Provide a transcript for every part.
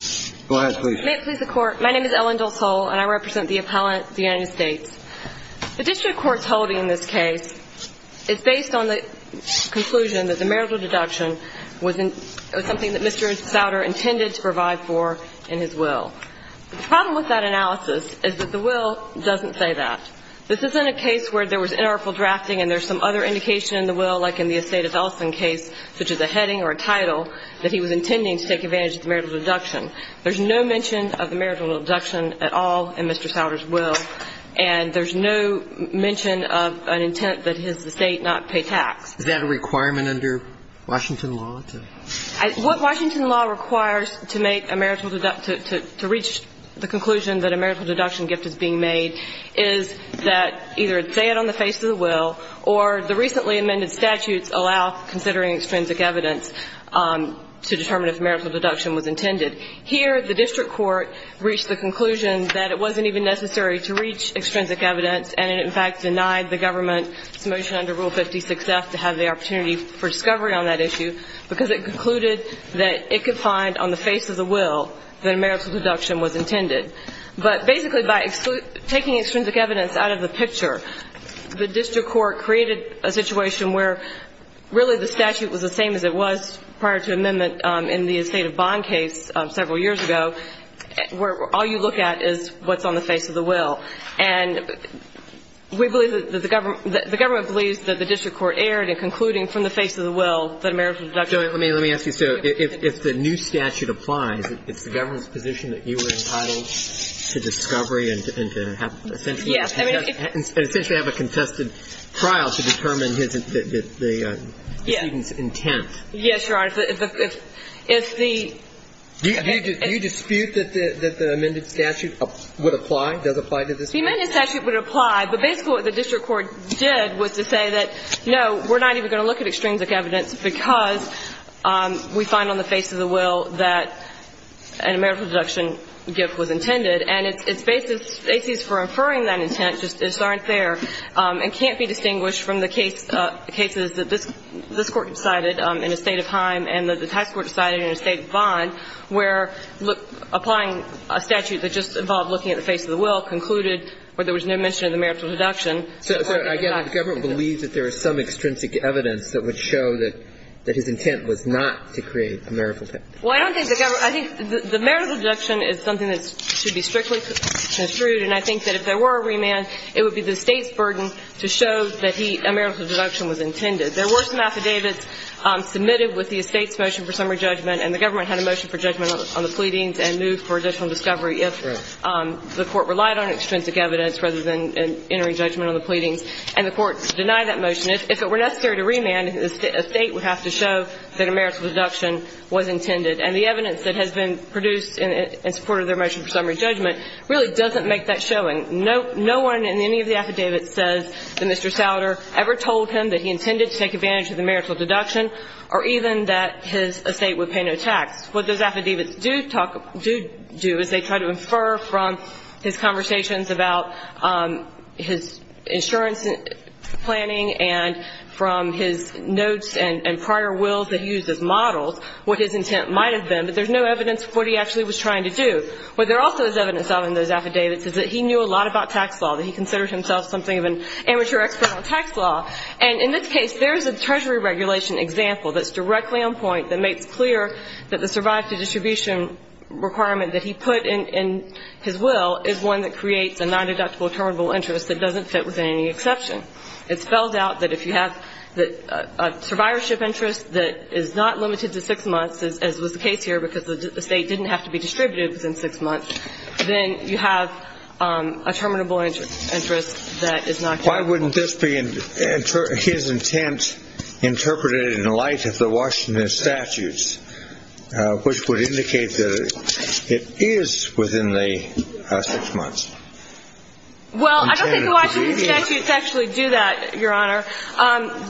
The District Court's holding in this case is based on the conclusion that the marital deduction was something that Mr. Souder intended to provide for in his will. The problem with that analysis is that the will doesn't say that. This isn't a case where there was interoperable drafting and there's some other indication in the will, like in the Assata Dawson case, such as a heading or a title, that he was intending to take advantage of the marital deduction. There's no mention of the marital deduction at all in Mr. Souder's will, and there's no mention of an intent that his estate not pay tax. Is that a requirement under Washington law to – What Washington law requires to make a marital – to reach the conclusion that a marital deduction gift is being made is that either it's said on the face of the will or the recently amended statutes allow considering extrinsic evidence to determine if marital deduction was intended. Here, the District Court reached the conclusion that it wasn't even necessary to reach extrinsic evidence, and it in fact denied the government's motion under Rule 56F to have the opportunity for discovery on that issue because it concluded that it could find on the face of the will that a marital deduction was intended. But basically by taking extrinsic evidence out of the picture, the District Court created a situation where really the statute was the same as it was prior to amendment in the estate bond case several years ago, where all you look at is what's on the face of the will. And we believe that the government – the government believes that the District Court erred in concluding from the face of the will that a marital deduction was intended. So let me ask you, so if the new statute applies, it's the government's position that you were entitled to discovery and to essentially have a contested trial to determine his – the student's intent? Yes, Your Honor. If the – if the – Do you dispute that the amended statute would apply, does apply to this case? The amended statute would apply, but basically what the District Court did was to say that, no, we're not even going to look at extrinsic evidence because we find on the face of the will that a marital deduction gift was intended. And its basis for inferring that intent just aren't there and can't be distinguished from the case – the cases that this – this Court decided in a state of Heim and that the tax court decided in an estate bond, where applying a statute that just involved looking at the face of the will concluded where there was no mention of the marital deduction. So, again, the government believes that there is some extrinsic evidence that would show that – that his intent was not to create a marital – Well, I don't think the government – I think the marital deduction is something that should be strictly construed, and I think that if there were a remand, it would be the state's burden to show that he – a marital deduction was intended. There were some affidavits submitted with the estate's motion for summary judgment, and the government had a motion for judgment on the pleadings and moved for additional discovery if the court relied on extrinsic evidence rather than entering judgment on the pleadings. And the court denied that motion. If it were necessary to remand, a state would have to show that a marital deduction was intended. And the evidence that has been produced in support of their motion for summary judgment really doesn't make that showing. No one in any of the affidavits says that Mr. Souder ever told him that he intended to take advantage of the marital deduction or even that his estate would pay no tax. What those affidavits do talk – do do is they try to infer from his conversations about his insurance planning and from his notes and prior wills that he used as models what his intent might have been, but there's no evidence of what he actually was trying to do. What there also is evidence of in those affidavits is that he knew a lot about tax law, that he considered himself something of an amateur expert on tax law. And in this case, there is a Treasury regulation example that's directly on point that makes clear that the survive-to-distribution requirement that he put in his will is one that creates a non-deductible terminable interest that doesn't fit with any exception. It spells out that if you have a survivorship interest that is not limited to six months, as was the case here, because the estate didn't have to be distributed within six months, then you have a terminable interest that is not deductible. Why wouldn't this be his intent interpreted in light of the Washington statutes, which would indicate that it is within the six months? Well, I don't think the Washington statutes actually do that, Your Honor.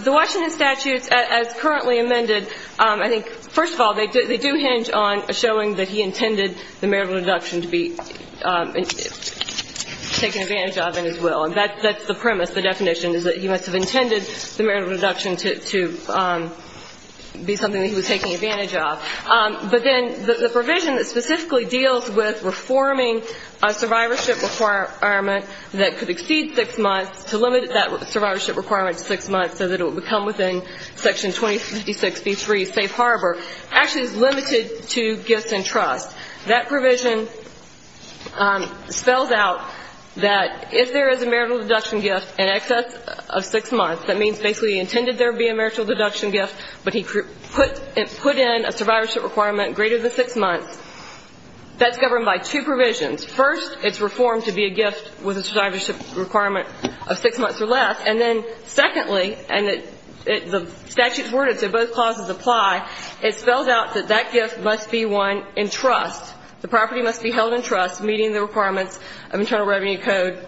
The Washington statutes, as currently amended, I think, first of all, they do hinge on showing that he intended the marital deduction to be taken advantage of in his will. And that's the premise. The definition is that he must have intended the marital deduction to be something that he was taking advantage of. But then the provision that specifically deals with reforming a survivorship requirement that could exceed six months, to limit that survivorship requirement to six months so that it would become within Section 2056B3, safe harbor, actually is limited to gifts and trust. That provision spells out that if there is a marital deduction gift in excess of six months, that means basically he intended there be a marital deduction gift, but he put in a survivorship requirement greater than six months, that's governed by two provisions. First, it's reformed to be a gift with a survivorship requirement of six months or less. And then secondly, and the statutes worded so both clauses apply, it spells out that that gift must be one in trust. The property must be held in trust, meeting the requirements of Internal Revenue Code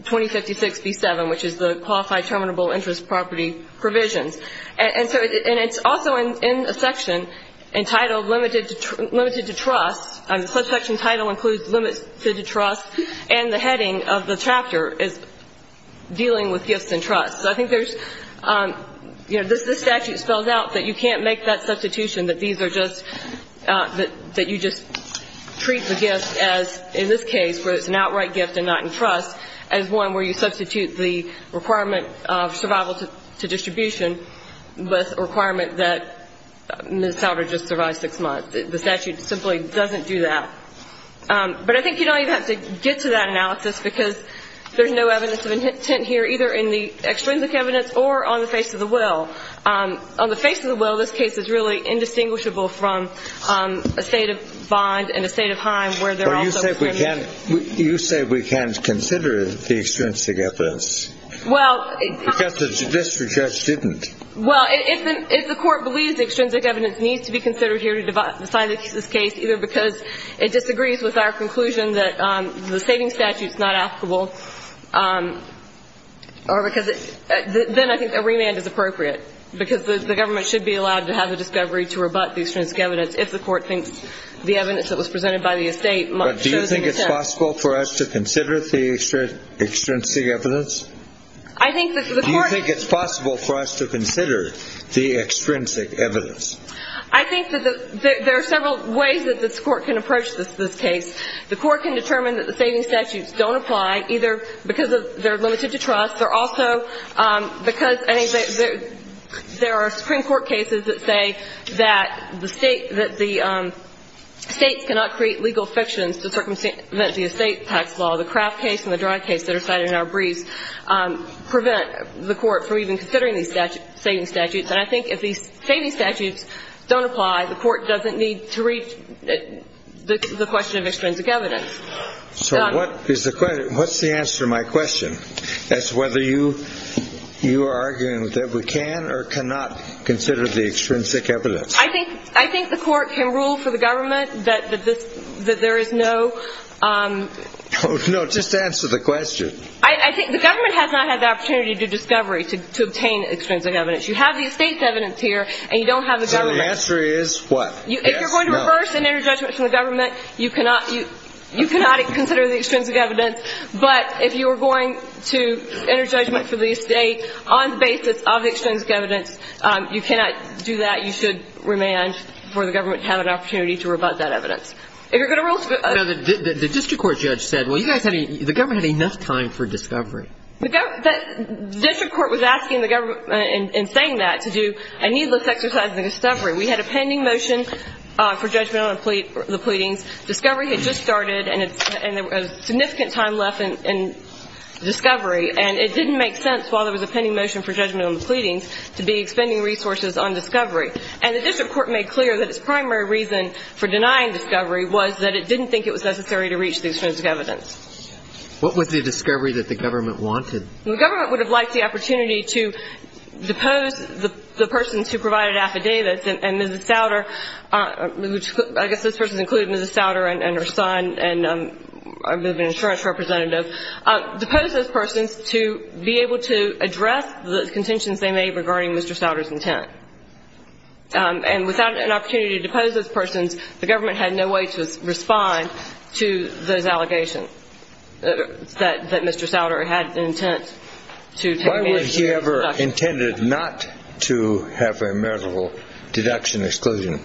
2056B7, which is the Qualified Terminable Interest Property Provisions. And so it's also in a section entitled Limited to Trust. The subsection title includes Limited to Trust, and the heading of the chapter is Dealing with Gifts in Trust. So I think there's, you know, this statute spells out that you can't make that substitution, that these are just, that you just treat the gift as, in this case, where it's an outright gift and not in trust, as one where you substitute the requirement of survival to distribution with a requirement that Ms. Souder just survived six months. The statute simply doesn't do that. But I think you don't even have to get to that analysis, because there's no evidence of intent here, either in the extrinsic evidence or on the face of the will. On the face of the will, this case is really indistinguishable from a state of Vond and a state of Heim where they're also claiming the gift. But you say we can't consider the extrinsic evidence. Well, it's not. Because the district judge didn't. Well, if the court believes the extrinsic evidence needs to be considered here to decide the case, either because it disagrees with our conclusion that the saving statute's not applicable, or because it, then I think a remand is appropriate, because the government should be allowed to have the discovery to rebut the extrinsic evidence if the court thinks the evidence that was presented by the estate shows an intent. But do you think it's possible for us to consider the extrinsic evidence? I think the court. I think it's possible for us to consider the extrinsic evidence. I think that there are several ways that this court can approach this case. The court can determine that the saving statutes don't apply, either because they're limited to trust, or also because there are Supreme Court cases that say that the states cannot create legal fictions to circumvent the estate tax law. The Kraft case and the Dry case that are cited in our briefs prevent the court from even considering these saving statutes. And I think if these saving statutes don't apply, the court doesn't need to read the question of extrinsic evidence. So what is the question? What's the answer to my question as to whether you are arguing that we can or cannot consider the extrinsic evidence? I think the court can rule for the government that there is no... No, just answer the question. I think the government has not had the opportunity to discovery, to obtain extrinsic evidence. You have the estate's evidence here, and you don't have the government's. So the answer is what? If you're going to reverse an inner judgment from the government, you cannot consider the extrinsic evidence. But if you are going to enter judgment for the estate on the basis of the extrinsic evidence, you cannot do that. You should remand for the government to have an opportunity to rebut that evidence. If you're going to rule... Now, the district court judge said, well, you guys had... The government had enough time for discovery. The district court was asking the government, and saying that, to do a needless exercise in discovery. We had a pending motion for judgment on the pleadings. Discovery had just started, and there was significant time left in discovery. And it didn't make sense while there was a pending motion for judgment on the pleadings. To be expending resources on discovery. And the district court made clear that its primary reason for denying discovery was that it didn't think it was necessary to reach the extrinsic evidence. What was the discovery that the government wanted? The government would have liked the opportunity to depose the persons who provided affidavits, and Mrs. Souder, I guess this person included Mrs. Souder and her son, and the insurance representative, depose those persons to be able to address the contentions they made regarding Mr. Souder's intent. And without an opportunity to depose those persons, the government had no way to respond to those allegations that Mr. Souder had intent to take advantage of. Why would he ever intended not to have a meritable deduction exclusion?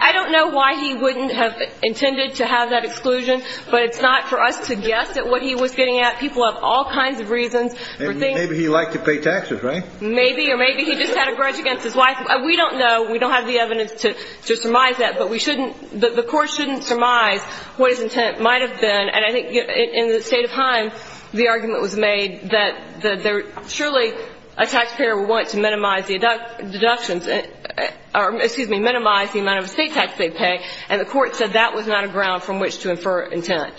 I don't know why he wouldn't have intended to have that exclusion, but it's not for us to guess at what he was getting at. People have all kinds of reasons for thinking... Maybe he liked to pay taxes, right? Maybe, or maybe he just had a grudge against his wife. We don't know. We don't have the evidence to surmise that. But the court shouldn't surmise what his intent might have been. And I think in the state of Haim, the argument was made that surely a taxpayer would want to minimize the deductions, or excuse me, minimize the amount of estate tax they pay. And the court said that was not a ground from which to infer intent.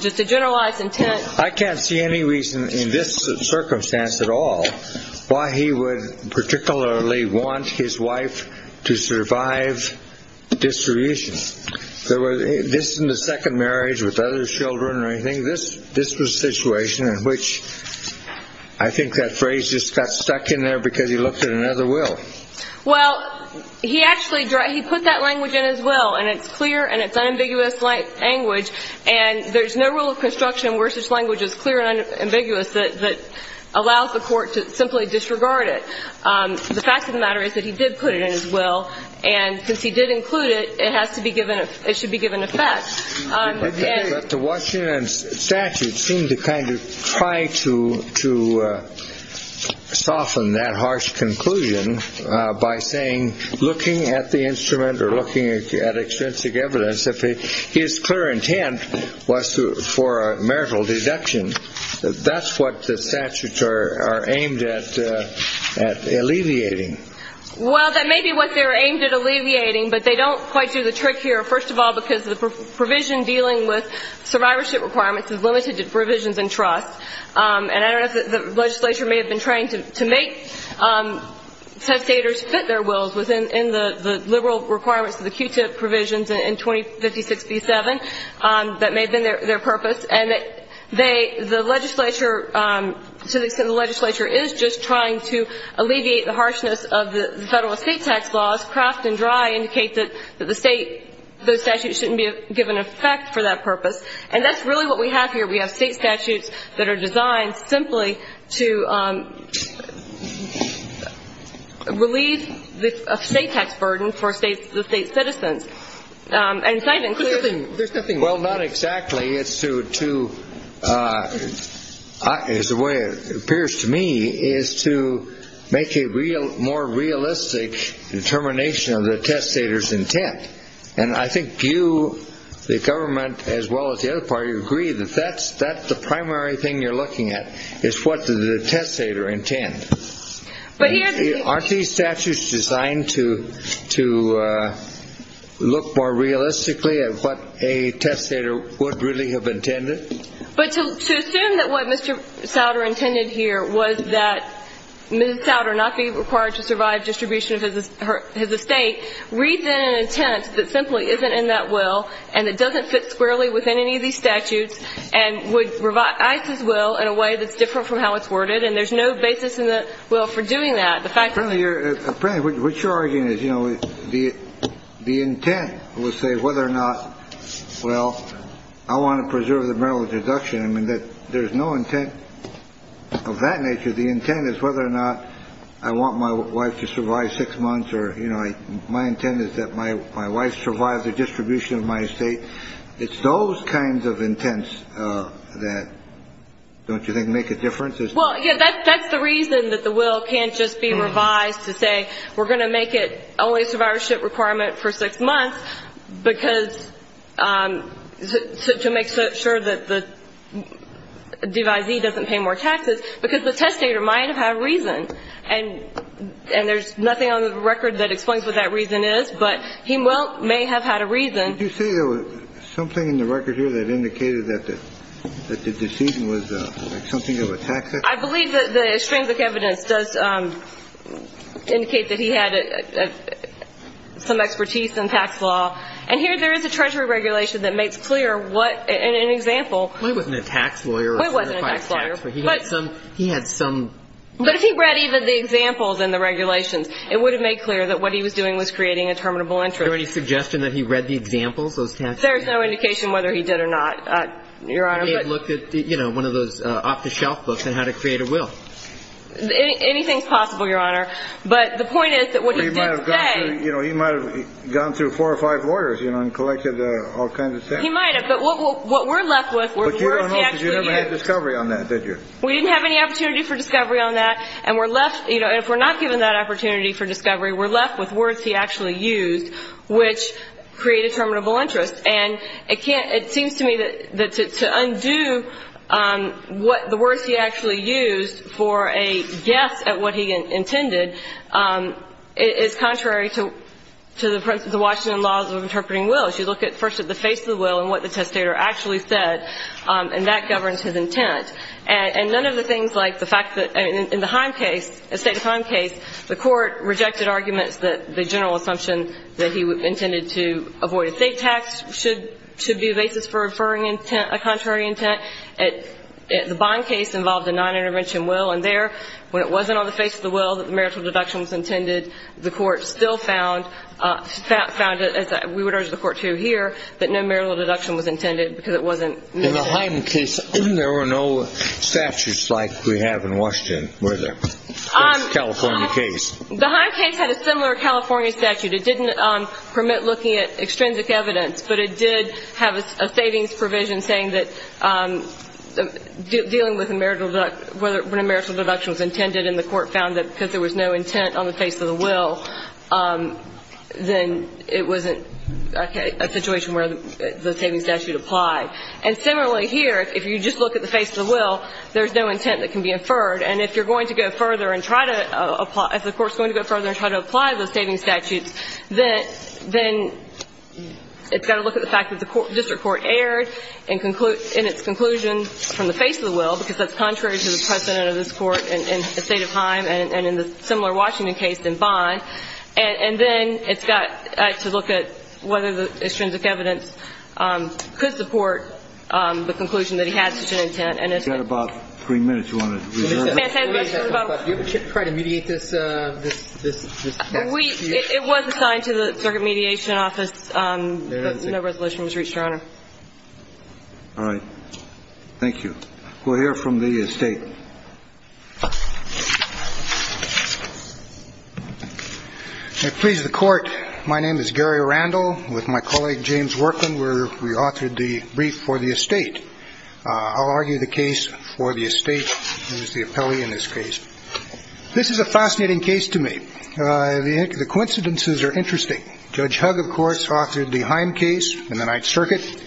Just a generalized intent... I can't see any reason in this circumstance at all why he would particularly want his wife to survive distribution. This in the second marriage with other children or anything, this was a situation in which I think that phrase just got stuck in there because he looked at another will. Well, he actually put that language in his will, and it's clear and it's unambiguous language, and there's no rule of construction where such language is clear and ambiguous that allows the court to simply disregard it. The fact of the matter is that he did put it in his will, and since he did include it, it has to be given... It should be given effect. But the Washington statute seemed to kind of try to soften that harsh conclusion by saying, looking at the instrument or looking at extrinsic evidence, his clear intent was for a marital deduction. That's what the statutes are aimed at alleviating. Well, that may be what they're aimed at alleviating, but they don't quite do the trick here, first of all, because the provision dealing with survivorship requirements is limited to provisions and trust. And I don't know if the legislature may have been trying to make their wills within the liberal requirements of the QTIP provisions in 2056-57. That may have been their purpose. And the legislature, to the extent the legislature is just trying to alleviate the harshness of the federal estate tax laws, Kraft and Dry indicate that the state, those statutes shouldn't be given effect for that purpose. And that's really what we have here. We have state statutes that are designed simply to relieve the state tax burden for the state citizens. And so I think there's nothing. Well, not exactly. It's to, as the way it appears to me, is to make a real, more realistic determination of the testator's intent. And I think you, the government, as well as the other party, agree that that's the primary thing you're looking at, is what does the testator intend? Aren't these statutes designed to look more realistically at what a testator would really have intended? But to assume that what Mr. Souder intended here was that Mr. Souder not be required to survive distribution of his estate, read then an intent that simply isn't in that will, and it doesn't fit squarely within any of these statutes, and would revise his will in a way that's different from how it's worded, and there's no basis in the will for doing that. The fact is— Apparently, what you're arguing is, you know, the intent would say whether or not, well, I want to preserve the merit of deduction. I mean, there's no intent of that nature. The intent is whether or not I want my wife to survive six months or, you know, my intent is that my wife survives the distribution of my estate. It's those kinds of intents that, don't you think, make a difference? Well, yeah, that's the reason that the will can't just be revised to say, we're going to make it only a survivorship requirement for six months because—to make sure that the devisee doesn't pay more taxes, because the testator might have had a reason, and there's nothing on the record that explains what that reason is, but he may have had a reason. Did you say there was something in the record here that indicated that the decision was something that was taxed? I believe that the extrinsic evidence does indicate that he had some expertise in tax law, and here there is a Treasury regulation that makes clear what, in an He wasn't a tax lawyer. He wasn't a tax lawyer. But he had some— But if he read even the examples in the regulations, it would have made clear that what he was doing was creating a terminable interest. Is there any suggestion that he read the examples, those tax— There's no indication whether he did or not, Your Honor, but— He may have looked at, you know, one of those off-the-shelf books on how to create a will. Anything's possible, Your Honor, but the point is that what he did say— He might have, but what we're left with were the words he actually used— But, Your Honor, you never had discovery on that, did you? We didn't have any opportunity for discovery on that, and we're left—you know, if we're not given that opportunity for discovery, we're left with words he actually used which create a terminable interest. And it can't—it seems to me that to undo what—the words he actually used for a guess at what he intended is contrary to the Washington laws of interpreting wills. You look at, first, at the face of the will and what the testator actually said, and that governs his intent. And none of the things like the fact that—I mean, in the Heim case, the State of Heim case, the Court rejected arguments that the general assumption that he intended to avoid a state tax should be a basis for referring intent—a contrary intent. The Bond case involved a non-intervention will, and there, when it wasn't on the face of the will that the marital deduction was intended, the Court still found it as—we would urge the Court to hear that no marital deduction was intended because it wasn't intended. In the Heim case, there were no statutes like we have in Washington, were there? That's a California case. The Heim case had a similar California statute. It didn't permit looking at extrinsic evidence, but it did have a savings provision saying that dealing with a marital—when a marital deduction was intended and the Court found that because there was no intent on the face of the will, then it wasn't a situation where the savings statute applied. And similarly here, if you just look at the face of the will, there's no intent that can be inferred. And if you're going to go further and try to apply—if the Court's going to go further and try to apply those savings statutes, then it's got to look at the fact that the district court erred in its conclusion from the face of the will, because that's in the similar Washington case in Bond. And then it's got to look at whether the extrinsic evidence could support the conclusion that he had such an intent. You've got about three minutes. Do you want to reserve? Do you ever try to mediate this? It was assigned to the Circuit Mediation Office, but no resolution was reached, Your Honor. All right. Thank you. We'll hear from the State. May it please the Court, my name is Gary Randall, with my colleague James Workman, where we authored the brief for the estate. I'll argue the case for the estate. He was the appellee in this case. This is a fascinating case to me. The coincidences are interesting. Judge Hug, of course, authored the Heim case in the Ninth Circuit.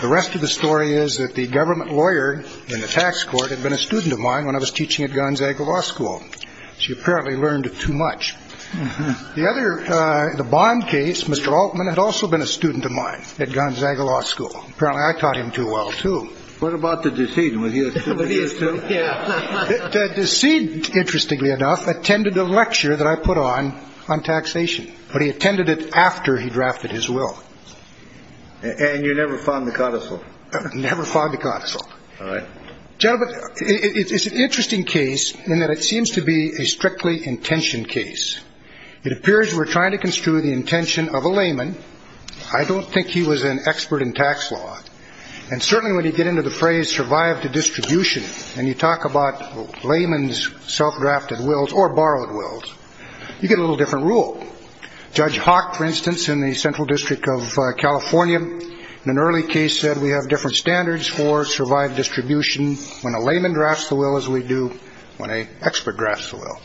The rest of the story is that the government lawyer in the tax court had been a student of mine when I was teaching at Gonzaga Law School. She apparently learned too much. The other, the Bond case, Mr. Altman had also been a student of mine at Gonzaga Law School. Apparently, I taught him too well, too. What about the deceit? The deceit, interestingly enough, attended a lecture that I put on on taxation, but he attended it after he drafted his will. And you never found the codicil? Never found the codicil. All right. Gentlemen, it's an interesting case in that it seems to be a strictly intentioned case. It appears we're trying to construe the intention of a layman. I don't think he was an expert in tax law. And certainly, when you get into the phrase, survive the distribution, and you talk about layman's self-drafted wills or borrowed wills, you get a little different rule. Judge Hawk, for instance, in the Central District of California, in an early case, said we have different standards for survive distribution when a layman drafts the will as we do when an expert drafts the will.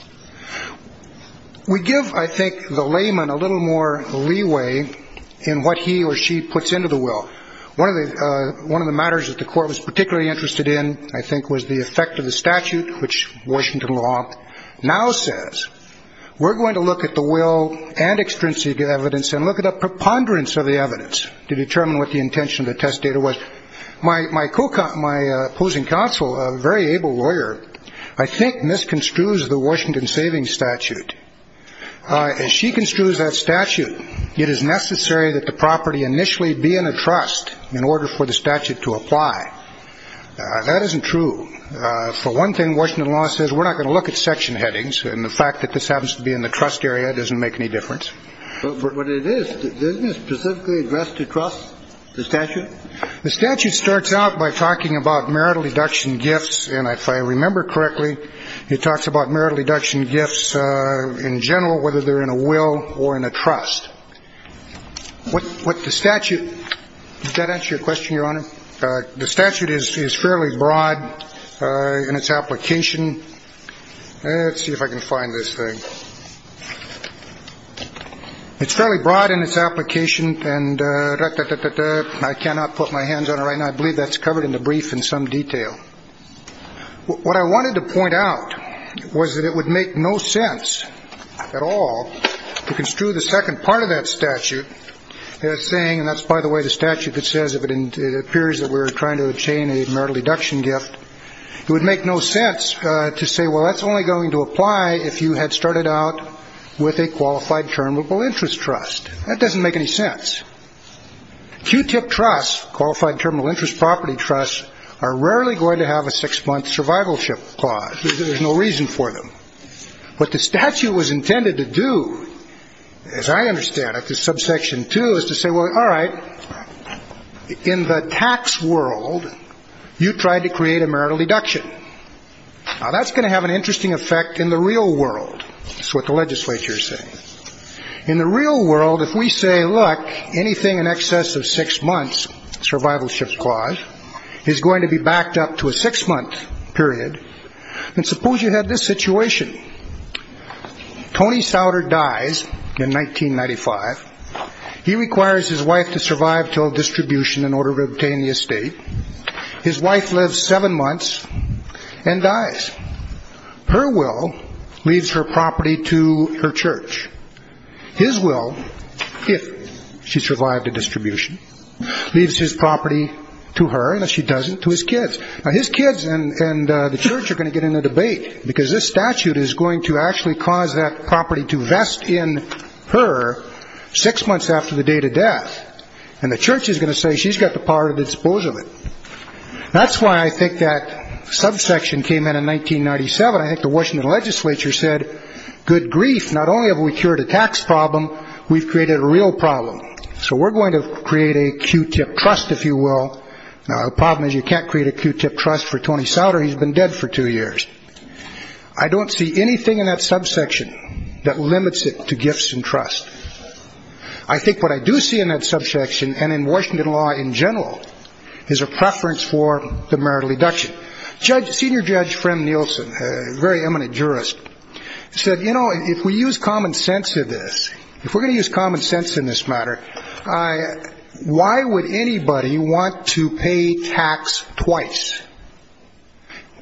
We give, I think, the layman a little more leeway in what he or she puts into the will. One of the matters that the court was particularly interested in, I think, was the effect of the statute, which Washington law now says, we're going to look at the will and extrinsic evidence and look at the preponderance of the evidence. To determine what the intention of the test data was. My opposing counsel, a very able lawyer, I think misconstrues the Washington savings statute. As she construes that statute, it is necessary that the property initially be in a trust in order for the statute to apply. That isn't true. For one thing, Washington law says we're not going to look at section headings. And the fact that this happens to be in the trust area doesn't make any difference. But it is specifically addressed to trust the statute. The statute starts out by talking about marital deduction gifts. And if I remember correctly, it talks about marital deduction gifts in general, whether they're in a will or in a trust with the statute. Does that answer your question, Your Honor? The statute is fairly broad in its application. Let's see if I can find this thing. It's fairly broad in its application. And I cannot put my hands on it right now. I believe that's covered in the brief in some detail. What I wanted to point out was that it would make no sense at all to construe the second part of that statute as saying. And that's by the way, the statute, it says, if it appears that we're trying to obtain a marital deduction gift, it would make no sense to say, well, that's only going to apply if you had started out with a qualified terminal interest trust. That doesn't make any sense. Q-tip trusts, qualified terminal interest property trusts, are rarely going to have a six-month survivalship clause. There's no reason for them. What the statute was intended to do, as I understand it, this subsection 2 is to say, well, all right, in the tax world, you tried to create a marital deduction. Now, that's going to have an interesting effect in the real world. That's what the legislature is saying. In the real world, if we say, look, anything in excess of six months, survivalship clause, is going to be backed up to a six-month period. And suppose you had this situation. Tony Souder dies in 1995. He requires his wife to survive till distribution in order to obtain the estate. His wife lives seven months and dies. Her will leaves her property to her church. His will, if she survived to distribution, leaves his property to her, and if she doesn't, to his kids. Now, his kids and the church are going to get in a debate, because this statute is going to actually cause that property to vest in her six months after the date of death. And the church is going to say she's got the power to dispose of it. That's why I think that subsection came in in 1997. I think the Washington legislature said, good grief, not only have we cured a tax problem, we've created a real problem. So we're going to create a Q-tip trust, if you will. Now, the problem is you can't create a Q-tip trust for Tony Souder. He's been dead for two years. I don't see anything in that subsection that limits it to gifts and trust. I think what I do see in that subsection, and in Washington law in general, is a preference for the marital deduction. Senior Judge Frem Nielsen, a very eminent jurist, said, you know, if we use common sense in this, if we're going to use common sense in this matter, why would anybody want to pay tax twice?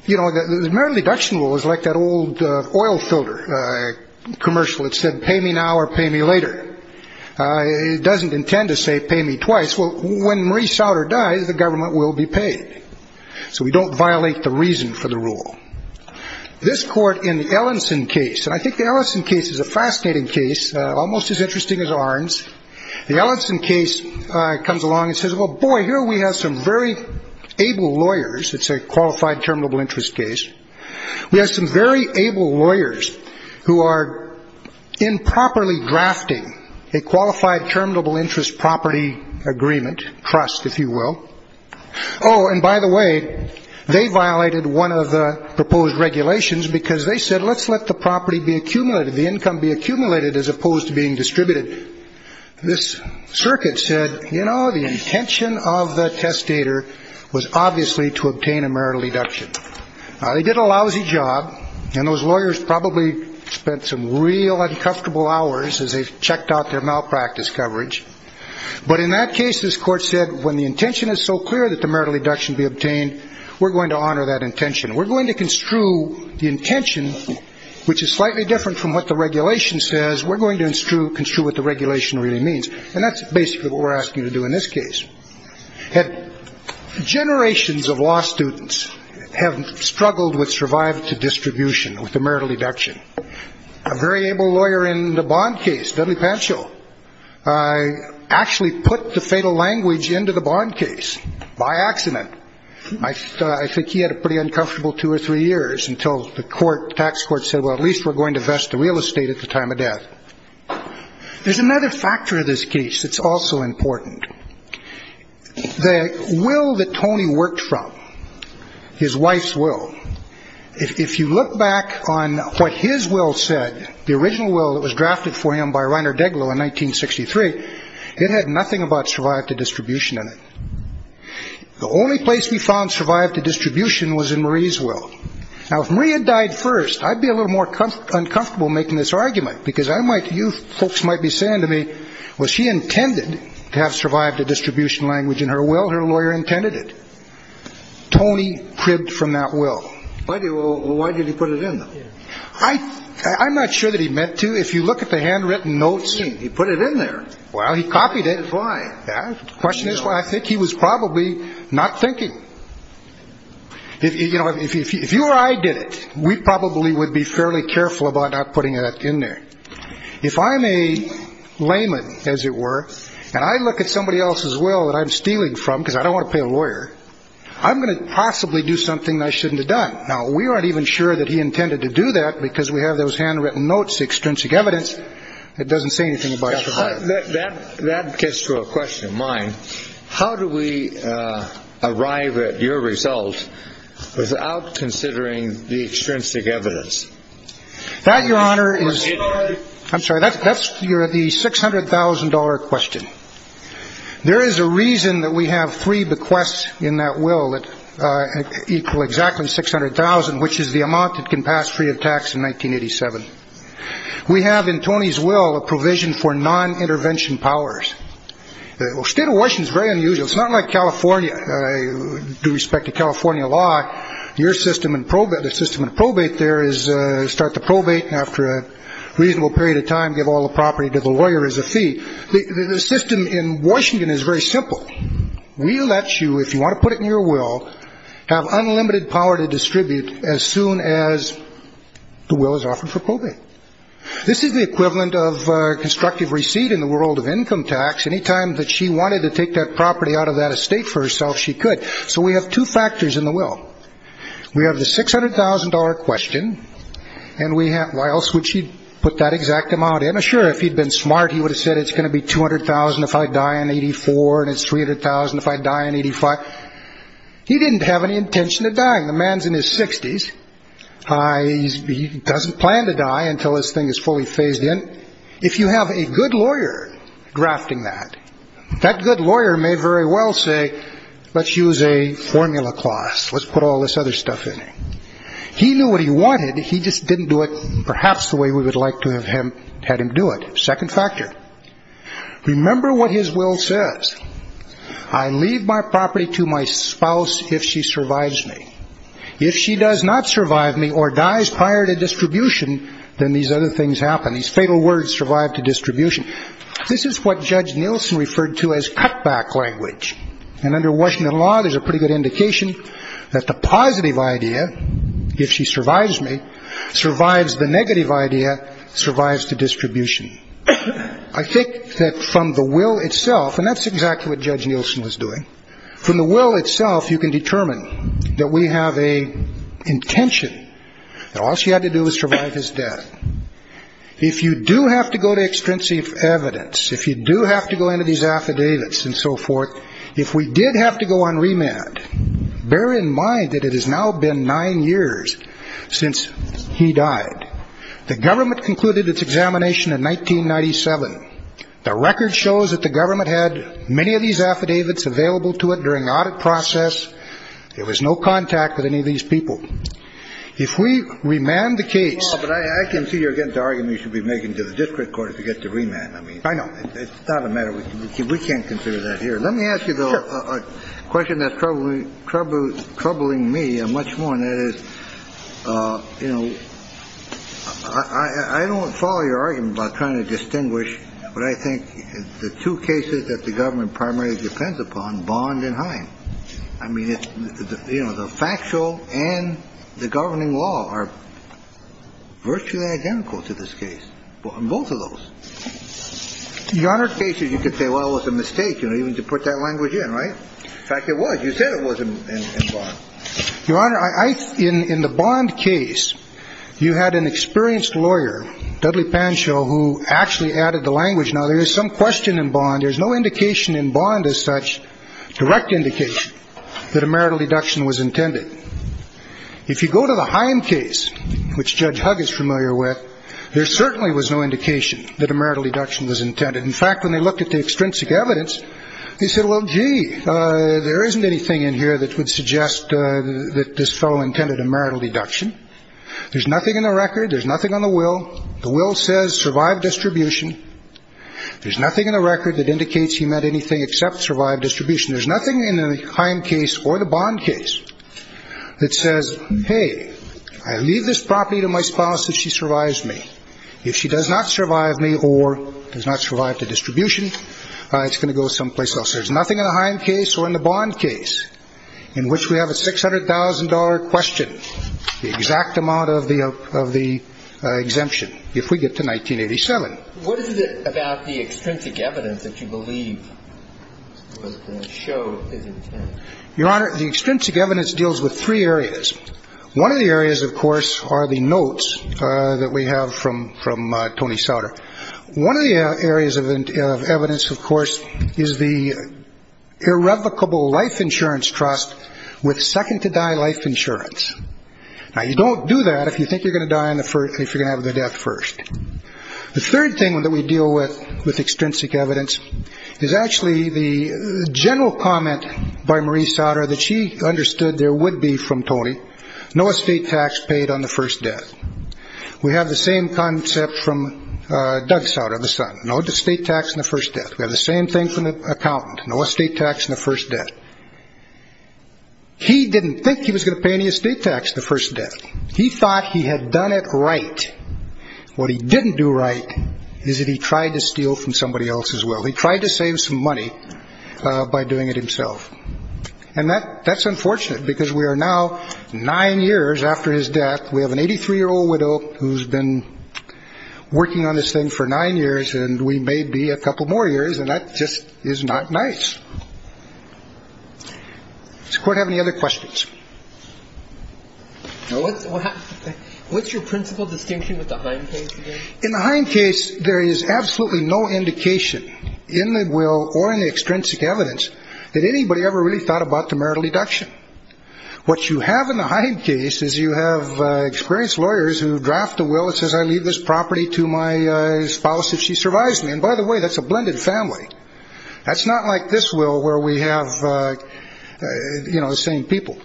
You know, the marital deduction rule is like that old oil filter commercial that said, pay me now or pay me later. It doesn't intend to say pay me twice. When Maurice Souder dies, the government will be paid. So we don't violate the reason for the rule. This court in the Ellenson case, and I think the Ellenson case is a fascinating case, almost as interesting as Arndt's. The Ellenson case comes along and says, well, boy, here we have some very able lawyers. It's a qualified terminable interest case. We have some very able lawyers who are improperly drafting a qualified terminable interest property agreement, trust, if you will. Oh, and by the way, they violated one of the proposed regulations because they said, let's let the property be accumulated, the income be accumulated as opposed to being distributed. This circuit said, you know, the intention of the testator was obviously to obtain a marital deduction. They did a lousy job. And those lawyers probably spent some real uncomfortable hours as they've checked out their malpractice coverage. But in that case, this court said, when the intention is so clear that the marital deduction be obtained, we're going to honor that intention. We're going to construe the intention, which is slightly different from what the regulation says. We're going to construe what the regulation really means. And that's basically what we're asking to do in this case. Generations of law students have struggled with survival to distribution with the marital deduction. A very able lawyer in the bond case, W. Panschel, actually put the fatal language into the bond case by accident. I think he had a pretty uncomfortable two or three years until the tax court said, well, at least we're going to vest the real estate at the time of death. There's another factor in this case that's also important. The will that Tony worked from, his wife's will. If you look back on what his will said, the original will that was drafted for him by Reiner Deglow in 1963, it had nothing about survive to distribution in it. The only place we found survive to distribution was in Marie's will. Now, if Marie had died first, I'd be a little more uncomfortable making this argument, because I might, you folks might be saying to me, was she intended to have survived to distribution language in her will? Her lawyer intended it. Tony cribbed from that will. Why did he put it in there? I'm not sure that he meant to. If you look at the handwritten notes. He put it in there. Well, he copied it. Why? Question is, I think he was probably not thinking. If you or I did it, we probably would be fairly careful about not putting that in there. If I'm a layman, as it were, and I look at somebody else's will that I'm stealing from, because I don't want to pay a lawyer, I'm going to possibly do something I shouldn't have done. Now, we aren't even sure that he intended to do that because we have those handwritten notes, the extrinsic evidence. It doesn't say anything about that. That gets to a question of mine. How do we arrive at your result without considering the extrinsic evidence that your honor is? I'm sorry, that's that's the $600,000 question. There is a reason that we have three bequests in that will that equal exactly $600,000, which is the amount that can pass free of tax in 1987. We have in Tony's will a provision for non-intervention powers. State of Washington is very unusual. It's not like California. Due respect to California law, your system and probe that the system and probate there is start the probate after a reasonable period of time. Give all the property to the lawyer as a fee. The system in Washington is very simple. We let you, if you want to put it in your will, have unlimited power to distribute as soon as the will is offered for probate. This is the equivalent of constructive receipt in the world of income tax. Anytime that she wanted to take that property out of that estate for herself, she could. So we have two factors in the will. We have the $600,000 question. And we have why else would she put that exact amount? Sure. If he'd been smart, he would have said it's going to be $200,000 if I die in 84, and it's $300,000 if I die in 85. He didn't have any intention of dying. The man's in his 60s. He doesn't plan to die until this thing is fully phased in. If you have a good lawyer drafting that, that good lawyer may very well say, let's use a formula class. Let's put all this other stuff in. He knew what he wanted. He just didn't do it perhaps the way we would like to have him had him do it. Second factor. Remember what his will says. I leave my property to my spouse if she survives me. If she does not survive me or dies prior to distribution, then these other things happen. These fatal words survive to distribution. This is what Judge Nielsen referred to as cutback language. And under Washington law, there's a pretty good indication that the positive idea, if she survives me, survives the negative idea, survives to distribution. I think that from the will itself, and that's exactly what Judge Nielsen was doing. From the will itself, you can determine that we have an intention that all she had to do was survive his death. If you do have to go to extrinsic evidence, if you do have to go into these affidavits and so forth, if we did have to go on remand, bear in mind that it has now been nine years since he died. The government concluded its examination in 1997. The record shows that the government had many of these affidavits available to it during the audit process. There was no contact with any of these people. If we remand the case... Well, but I can see you're getting to arguing you should be making to the district court if you get to remand. I mean... I know. It's not a matter... We can't consider that here. Let me ask you, though, a question that's troubling me much more, and that is, you know, I don't follow your argument about trying to distinguish what I think the two cases that the government primarily depends upon, Bond and Hine. I mean, you know, the factual and the governing law are virtually identical to this case, both of those. In your other cases, you could say, well, it was a mistake, you know, even to put that language in, right? In fact, it was. You said it wasn't in Bond. Your Honor, in the Bond case, you had an experienced lawyer, Dudley Pancho, who actually added the language. Now, there is some question in Bond. There's no indication in Bond as such, direct indication that a marital deduction was intended. If you go to the Hine case, which Judge Hug is familiar with, there certainly was no indication that a marital deduction was intended. In fact, when they looked at the extrinsic evidence, they said, well, gee, there isn't anything in here that would suggest that this fellow intended a marital deduction. There's nothing in the record. There's nothing on the will. The will says survive distribution. There's nothing in the record that indicates he meant anything except survive distribution. There's nothing in the Hine case or the Bond case that says, hey, I leave this property to my spouse if she survives me. If she does not survive me or does not survive the distribution, it's going to go someplace else. There's nothing in the Hine case or in the Bond case in which we have a $600,000 question, the exact amount of the exemption, if we get to 1987. What is it about the extrinsic evidence that you believe the show is intended? Your Honor, the extrinsic evidence deals with three areas. One of the areas, of course, are the notes that we have from Tony Sauter. One of the areas of evidence, of course, is the irrevocable life insurance trust with second-to-die life insurance. Now, you don't do that if you think you're going to die if you're going to have the death first. The third thing that we deal with with extrinsic evidence is actually the general comment by Marie Sauter that she understood there would be from Tony, no estate tax paid on the first death. We have the same concept from Doug Sauter, the son. No estate tax on the first death. We have the same thing from the accountant. No estate tax on the first death. He didn't think he was going to pay any estate tax the first death. He thought he had done it right. What he didn't do right is that he tried to steal from somebody else's will. He tried to save some money by doing it himself. And that's unfortunate because we are now nine years after his death. We have an 83-year-old widow who's been working on this thing for nine years, and we may be a couple more years, and that just is not nice. Does the court have any other questions? What's your principal distinction with the Hine case? In the Hine case, there is absolutely no indication in the will or in the extrinsic evidence that anybody ever really thought about the marital deduction. What you have in the Hine case is you have experienced lawyers who draft a will that says, I leave this property to my spouse if she survives me. And by the way, that's a blended family. That's not like this will where we have the same people.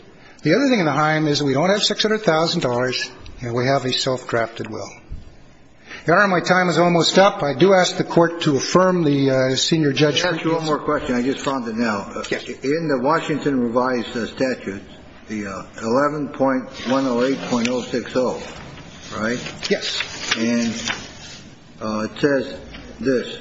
The other thing in the Hine is we don't have $600,000, and we have a self-drafted will. Your Honor, my time is almost up. I do ask the court to affirm the senior judge's... Let me ask you one more question. I just found it now. In the Washington revised statute, the 11.108.060, right? Yes. And it says this.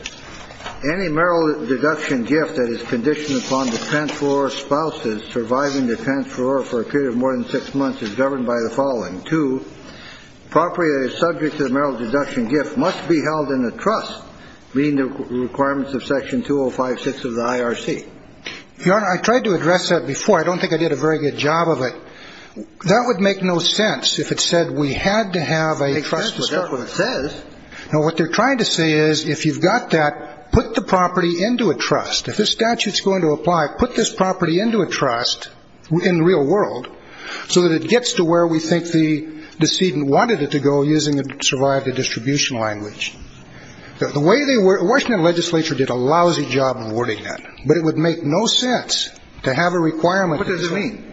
Any marital deduction gift that is conditioned upon defense for spouses surviving defense for a period of more than six months is governed by the following. Two, property that is subject to the marital deduction gift must be held in a trust, meeting the requirements of Section 205.6 of the IRC. Your Honor, I tried to address that before. I don't think I did a very good job of it. That would make no sense if it said we had to have a trust... It makes sense, but that's what it says. No, what they're trying to say is if you've got that, put the property into a trust. If this statute is going to apply, put this property into a trust in the real world so that it gets to where we think the decedent wanted it to go using the survive the distribution language. The way they were, Washington legislature did a lousy job of wording that, but it would make no sense to have a requirement. What does it mean?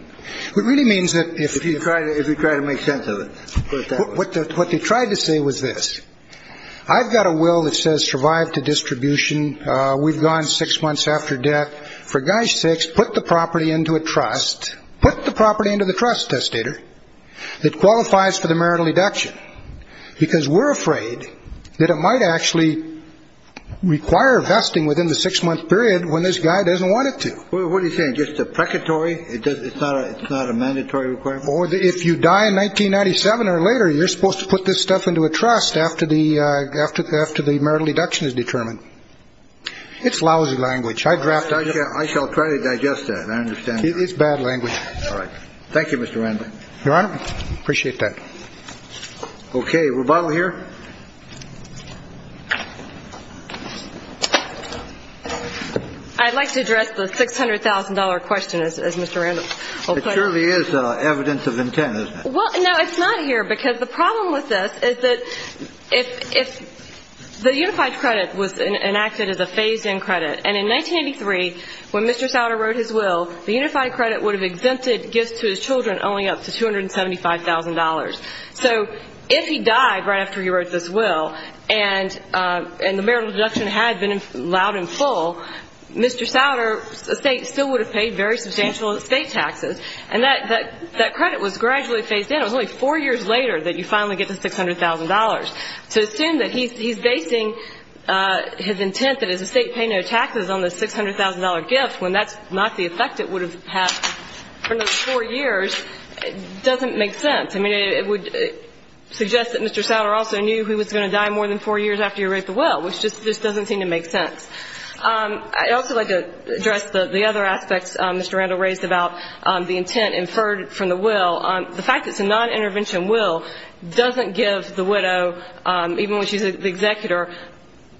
It really means that if you try to, if you try to make sense of it, what they tried to say was this. I've got a will that says survive to distribution. We've gone six months after death. For gosh sakes, put the property into a trust. Put the property into the trust, testator. It qualifies for the marital deduction because we're afraid that it might actually require vesting within the six-month period when this guy doesn't want it to. What are you saying? Just a precatory? It's not a mandatory requirement? Or if you die in 1997 or later, you're supposed to put this stuff into a trust after the marital deduction is determined. It's lousy language. I drafted it. I shall try to digest that. I understand. It's bad language. All right. Thank you, Mr. Randolph. Your Honor, I appreciate that. Okay, rebuttal here? I'd like to address the $600,000 question, as Mr. Randolph put it. It surely is evidence of intent, isn't it? Well, no, it's not here because the problem with this is that the unified credit was enacted as a phased-in credit. And in 1983, when Mr. Souder wrote his will, the unified credit would have exempted gifts to his children only up to $275,000. So if he died right after he wrote this will, and the marital deduction had been allowed in full, Mr. Souder's estate still would have paid very substantial estate taxes. And that credit was gradually phased in. It was only four years later that you finally get the $600,000. To assume that he's basing his intent that his estate pay no taxes on the $600,000 gift, when that's not the effect it would have had for those four years, doesn't make sense. It would suggest that Mr. Souder also knew he was going to die more than four years after he wrote the will, which just doesn't seem to make sense. I'd also like to address the other aspects Mr. Randolph raised about the intent inferred from the will. The fact that it's a non-intervention will doesn't give the widow, even when she's the executor,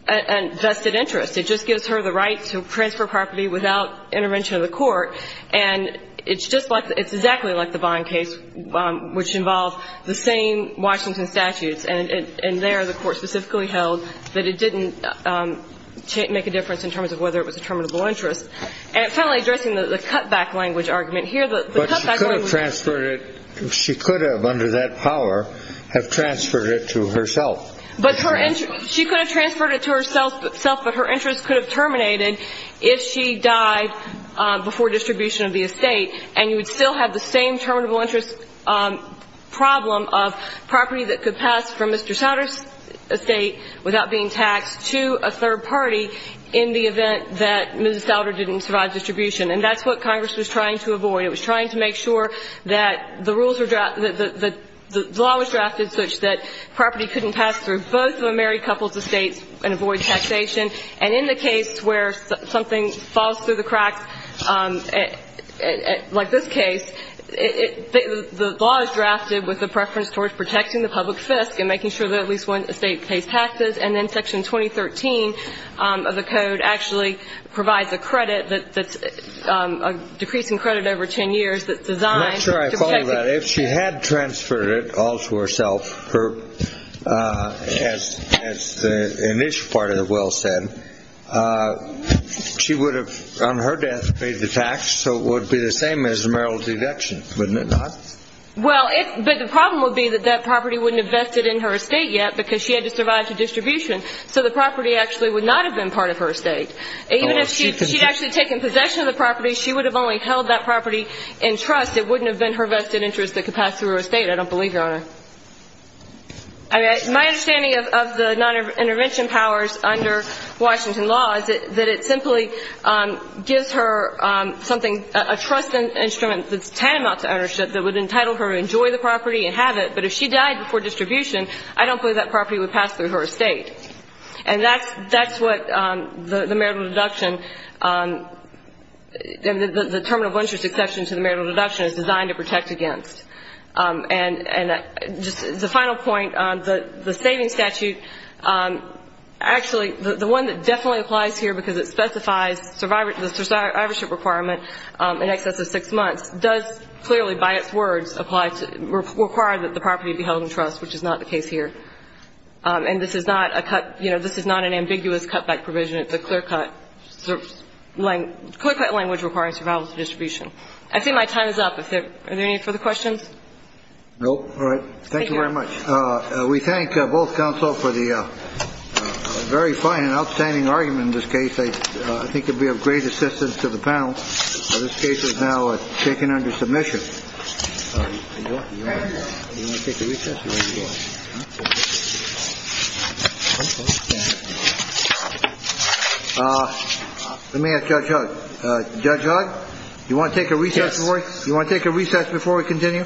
a vested interest. It just gives her the right to transfer property without intervention of the court. And it's just like, it's exactly like the Vine case, which involved the same Washington statutes. And there the court specifically held that it didn't make a difference in terms of whether it was a terminable interest. And finally, addressing the cutback language argument here. But she could have transferred it. She could have, under that power, have transferred it to herself. She could have transferred it to herself, but her interest could have terminated if she died before distribution of the estate. And you would still have the same terminable interest problem of property that could pass from Mr. Souder's estate without being taxed to a third party in the event that Mrs. Souder didn't survive distribution. And that's what Congress was trying to avoid. It was trying to make sure that the rules were drafted, that the law was drafted such that property couldn't pass through both of a married couple's estates and avoid taxation. And in the case where something falls through the cracks, like this case, the law is drafted with a preference towards protecting the public fisc and making sure that at least one estate pays taxes. And then Section 2013 of the code actually provides a credit that's a decreasing credit over 10 years that's designed to protect the estate. I'm not sure I follow that. If she had transferred it all to herself, as the initial part of the will said, she would have, on her death, paid the tax. So it would be the same as a marital deduction, wouldn't it not? Well, but the problem would be that that property wouldn't have vested in her estate yet because she had to survive to distribution. So the property actually would not have been part of her estate. Even if she'd actually taken possession of the property, she would have only held that property in trust. It wouldn't have been her vested interest that could pass through her estate. I don't believe you on it. My understanding of the non-intervention powers under Washington law is that it simply gives her something, a trust instrument that's tantamount to ownership that would entitle her to enjoy the property and have it. But if she died before distribution, I don't believe that property would pass through her estate. And that's what the marital deduction, the term of interest exception to the marital deduction is designed to protect against. And just the final point on the saving statute, actually the one that definitely applies here because it specifies the survivorship requirement in excess of six months, does clearly by its words require that the property be held in trust, which is not the case here. And this is not an ambiguous cutback provision. It's a clear-cut language requiring survival to distribution. I think my time is up. Are there any further questions? No. All right. Thank you very much. We thank both counsel for the very fine and outstanding argument in this case. I think it would be of great assistance to the panel. This case is now taken under submission. Let me ask Judge Hugg. Judge Hugg, do you want to take a recess? You want to take a recess before we continue?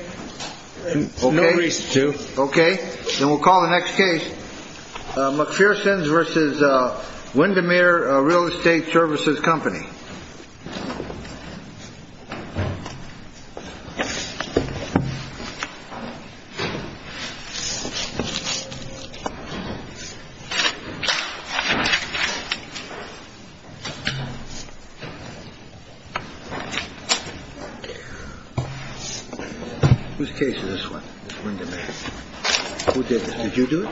No recess, Judge Hugg. Okay. Then we'll call the next case. McPherson's versus Windermere Real Estate Services Company. Whose case is this one? It's Windermere. Who did this? Did you do it?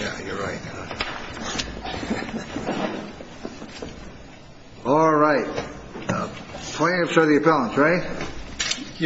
Yeah, you're right. All right. Plaintiffs are the appellants, right?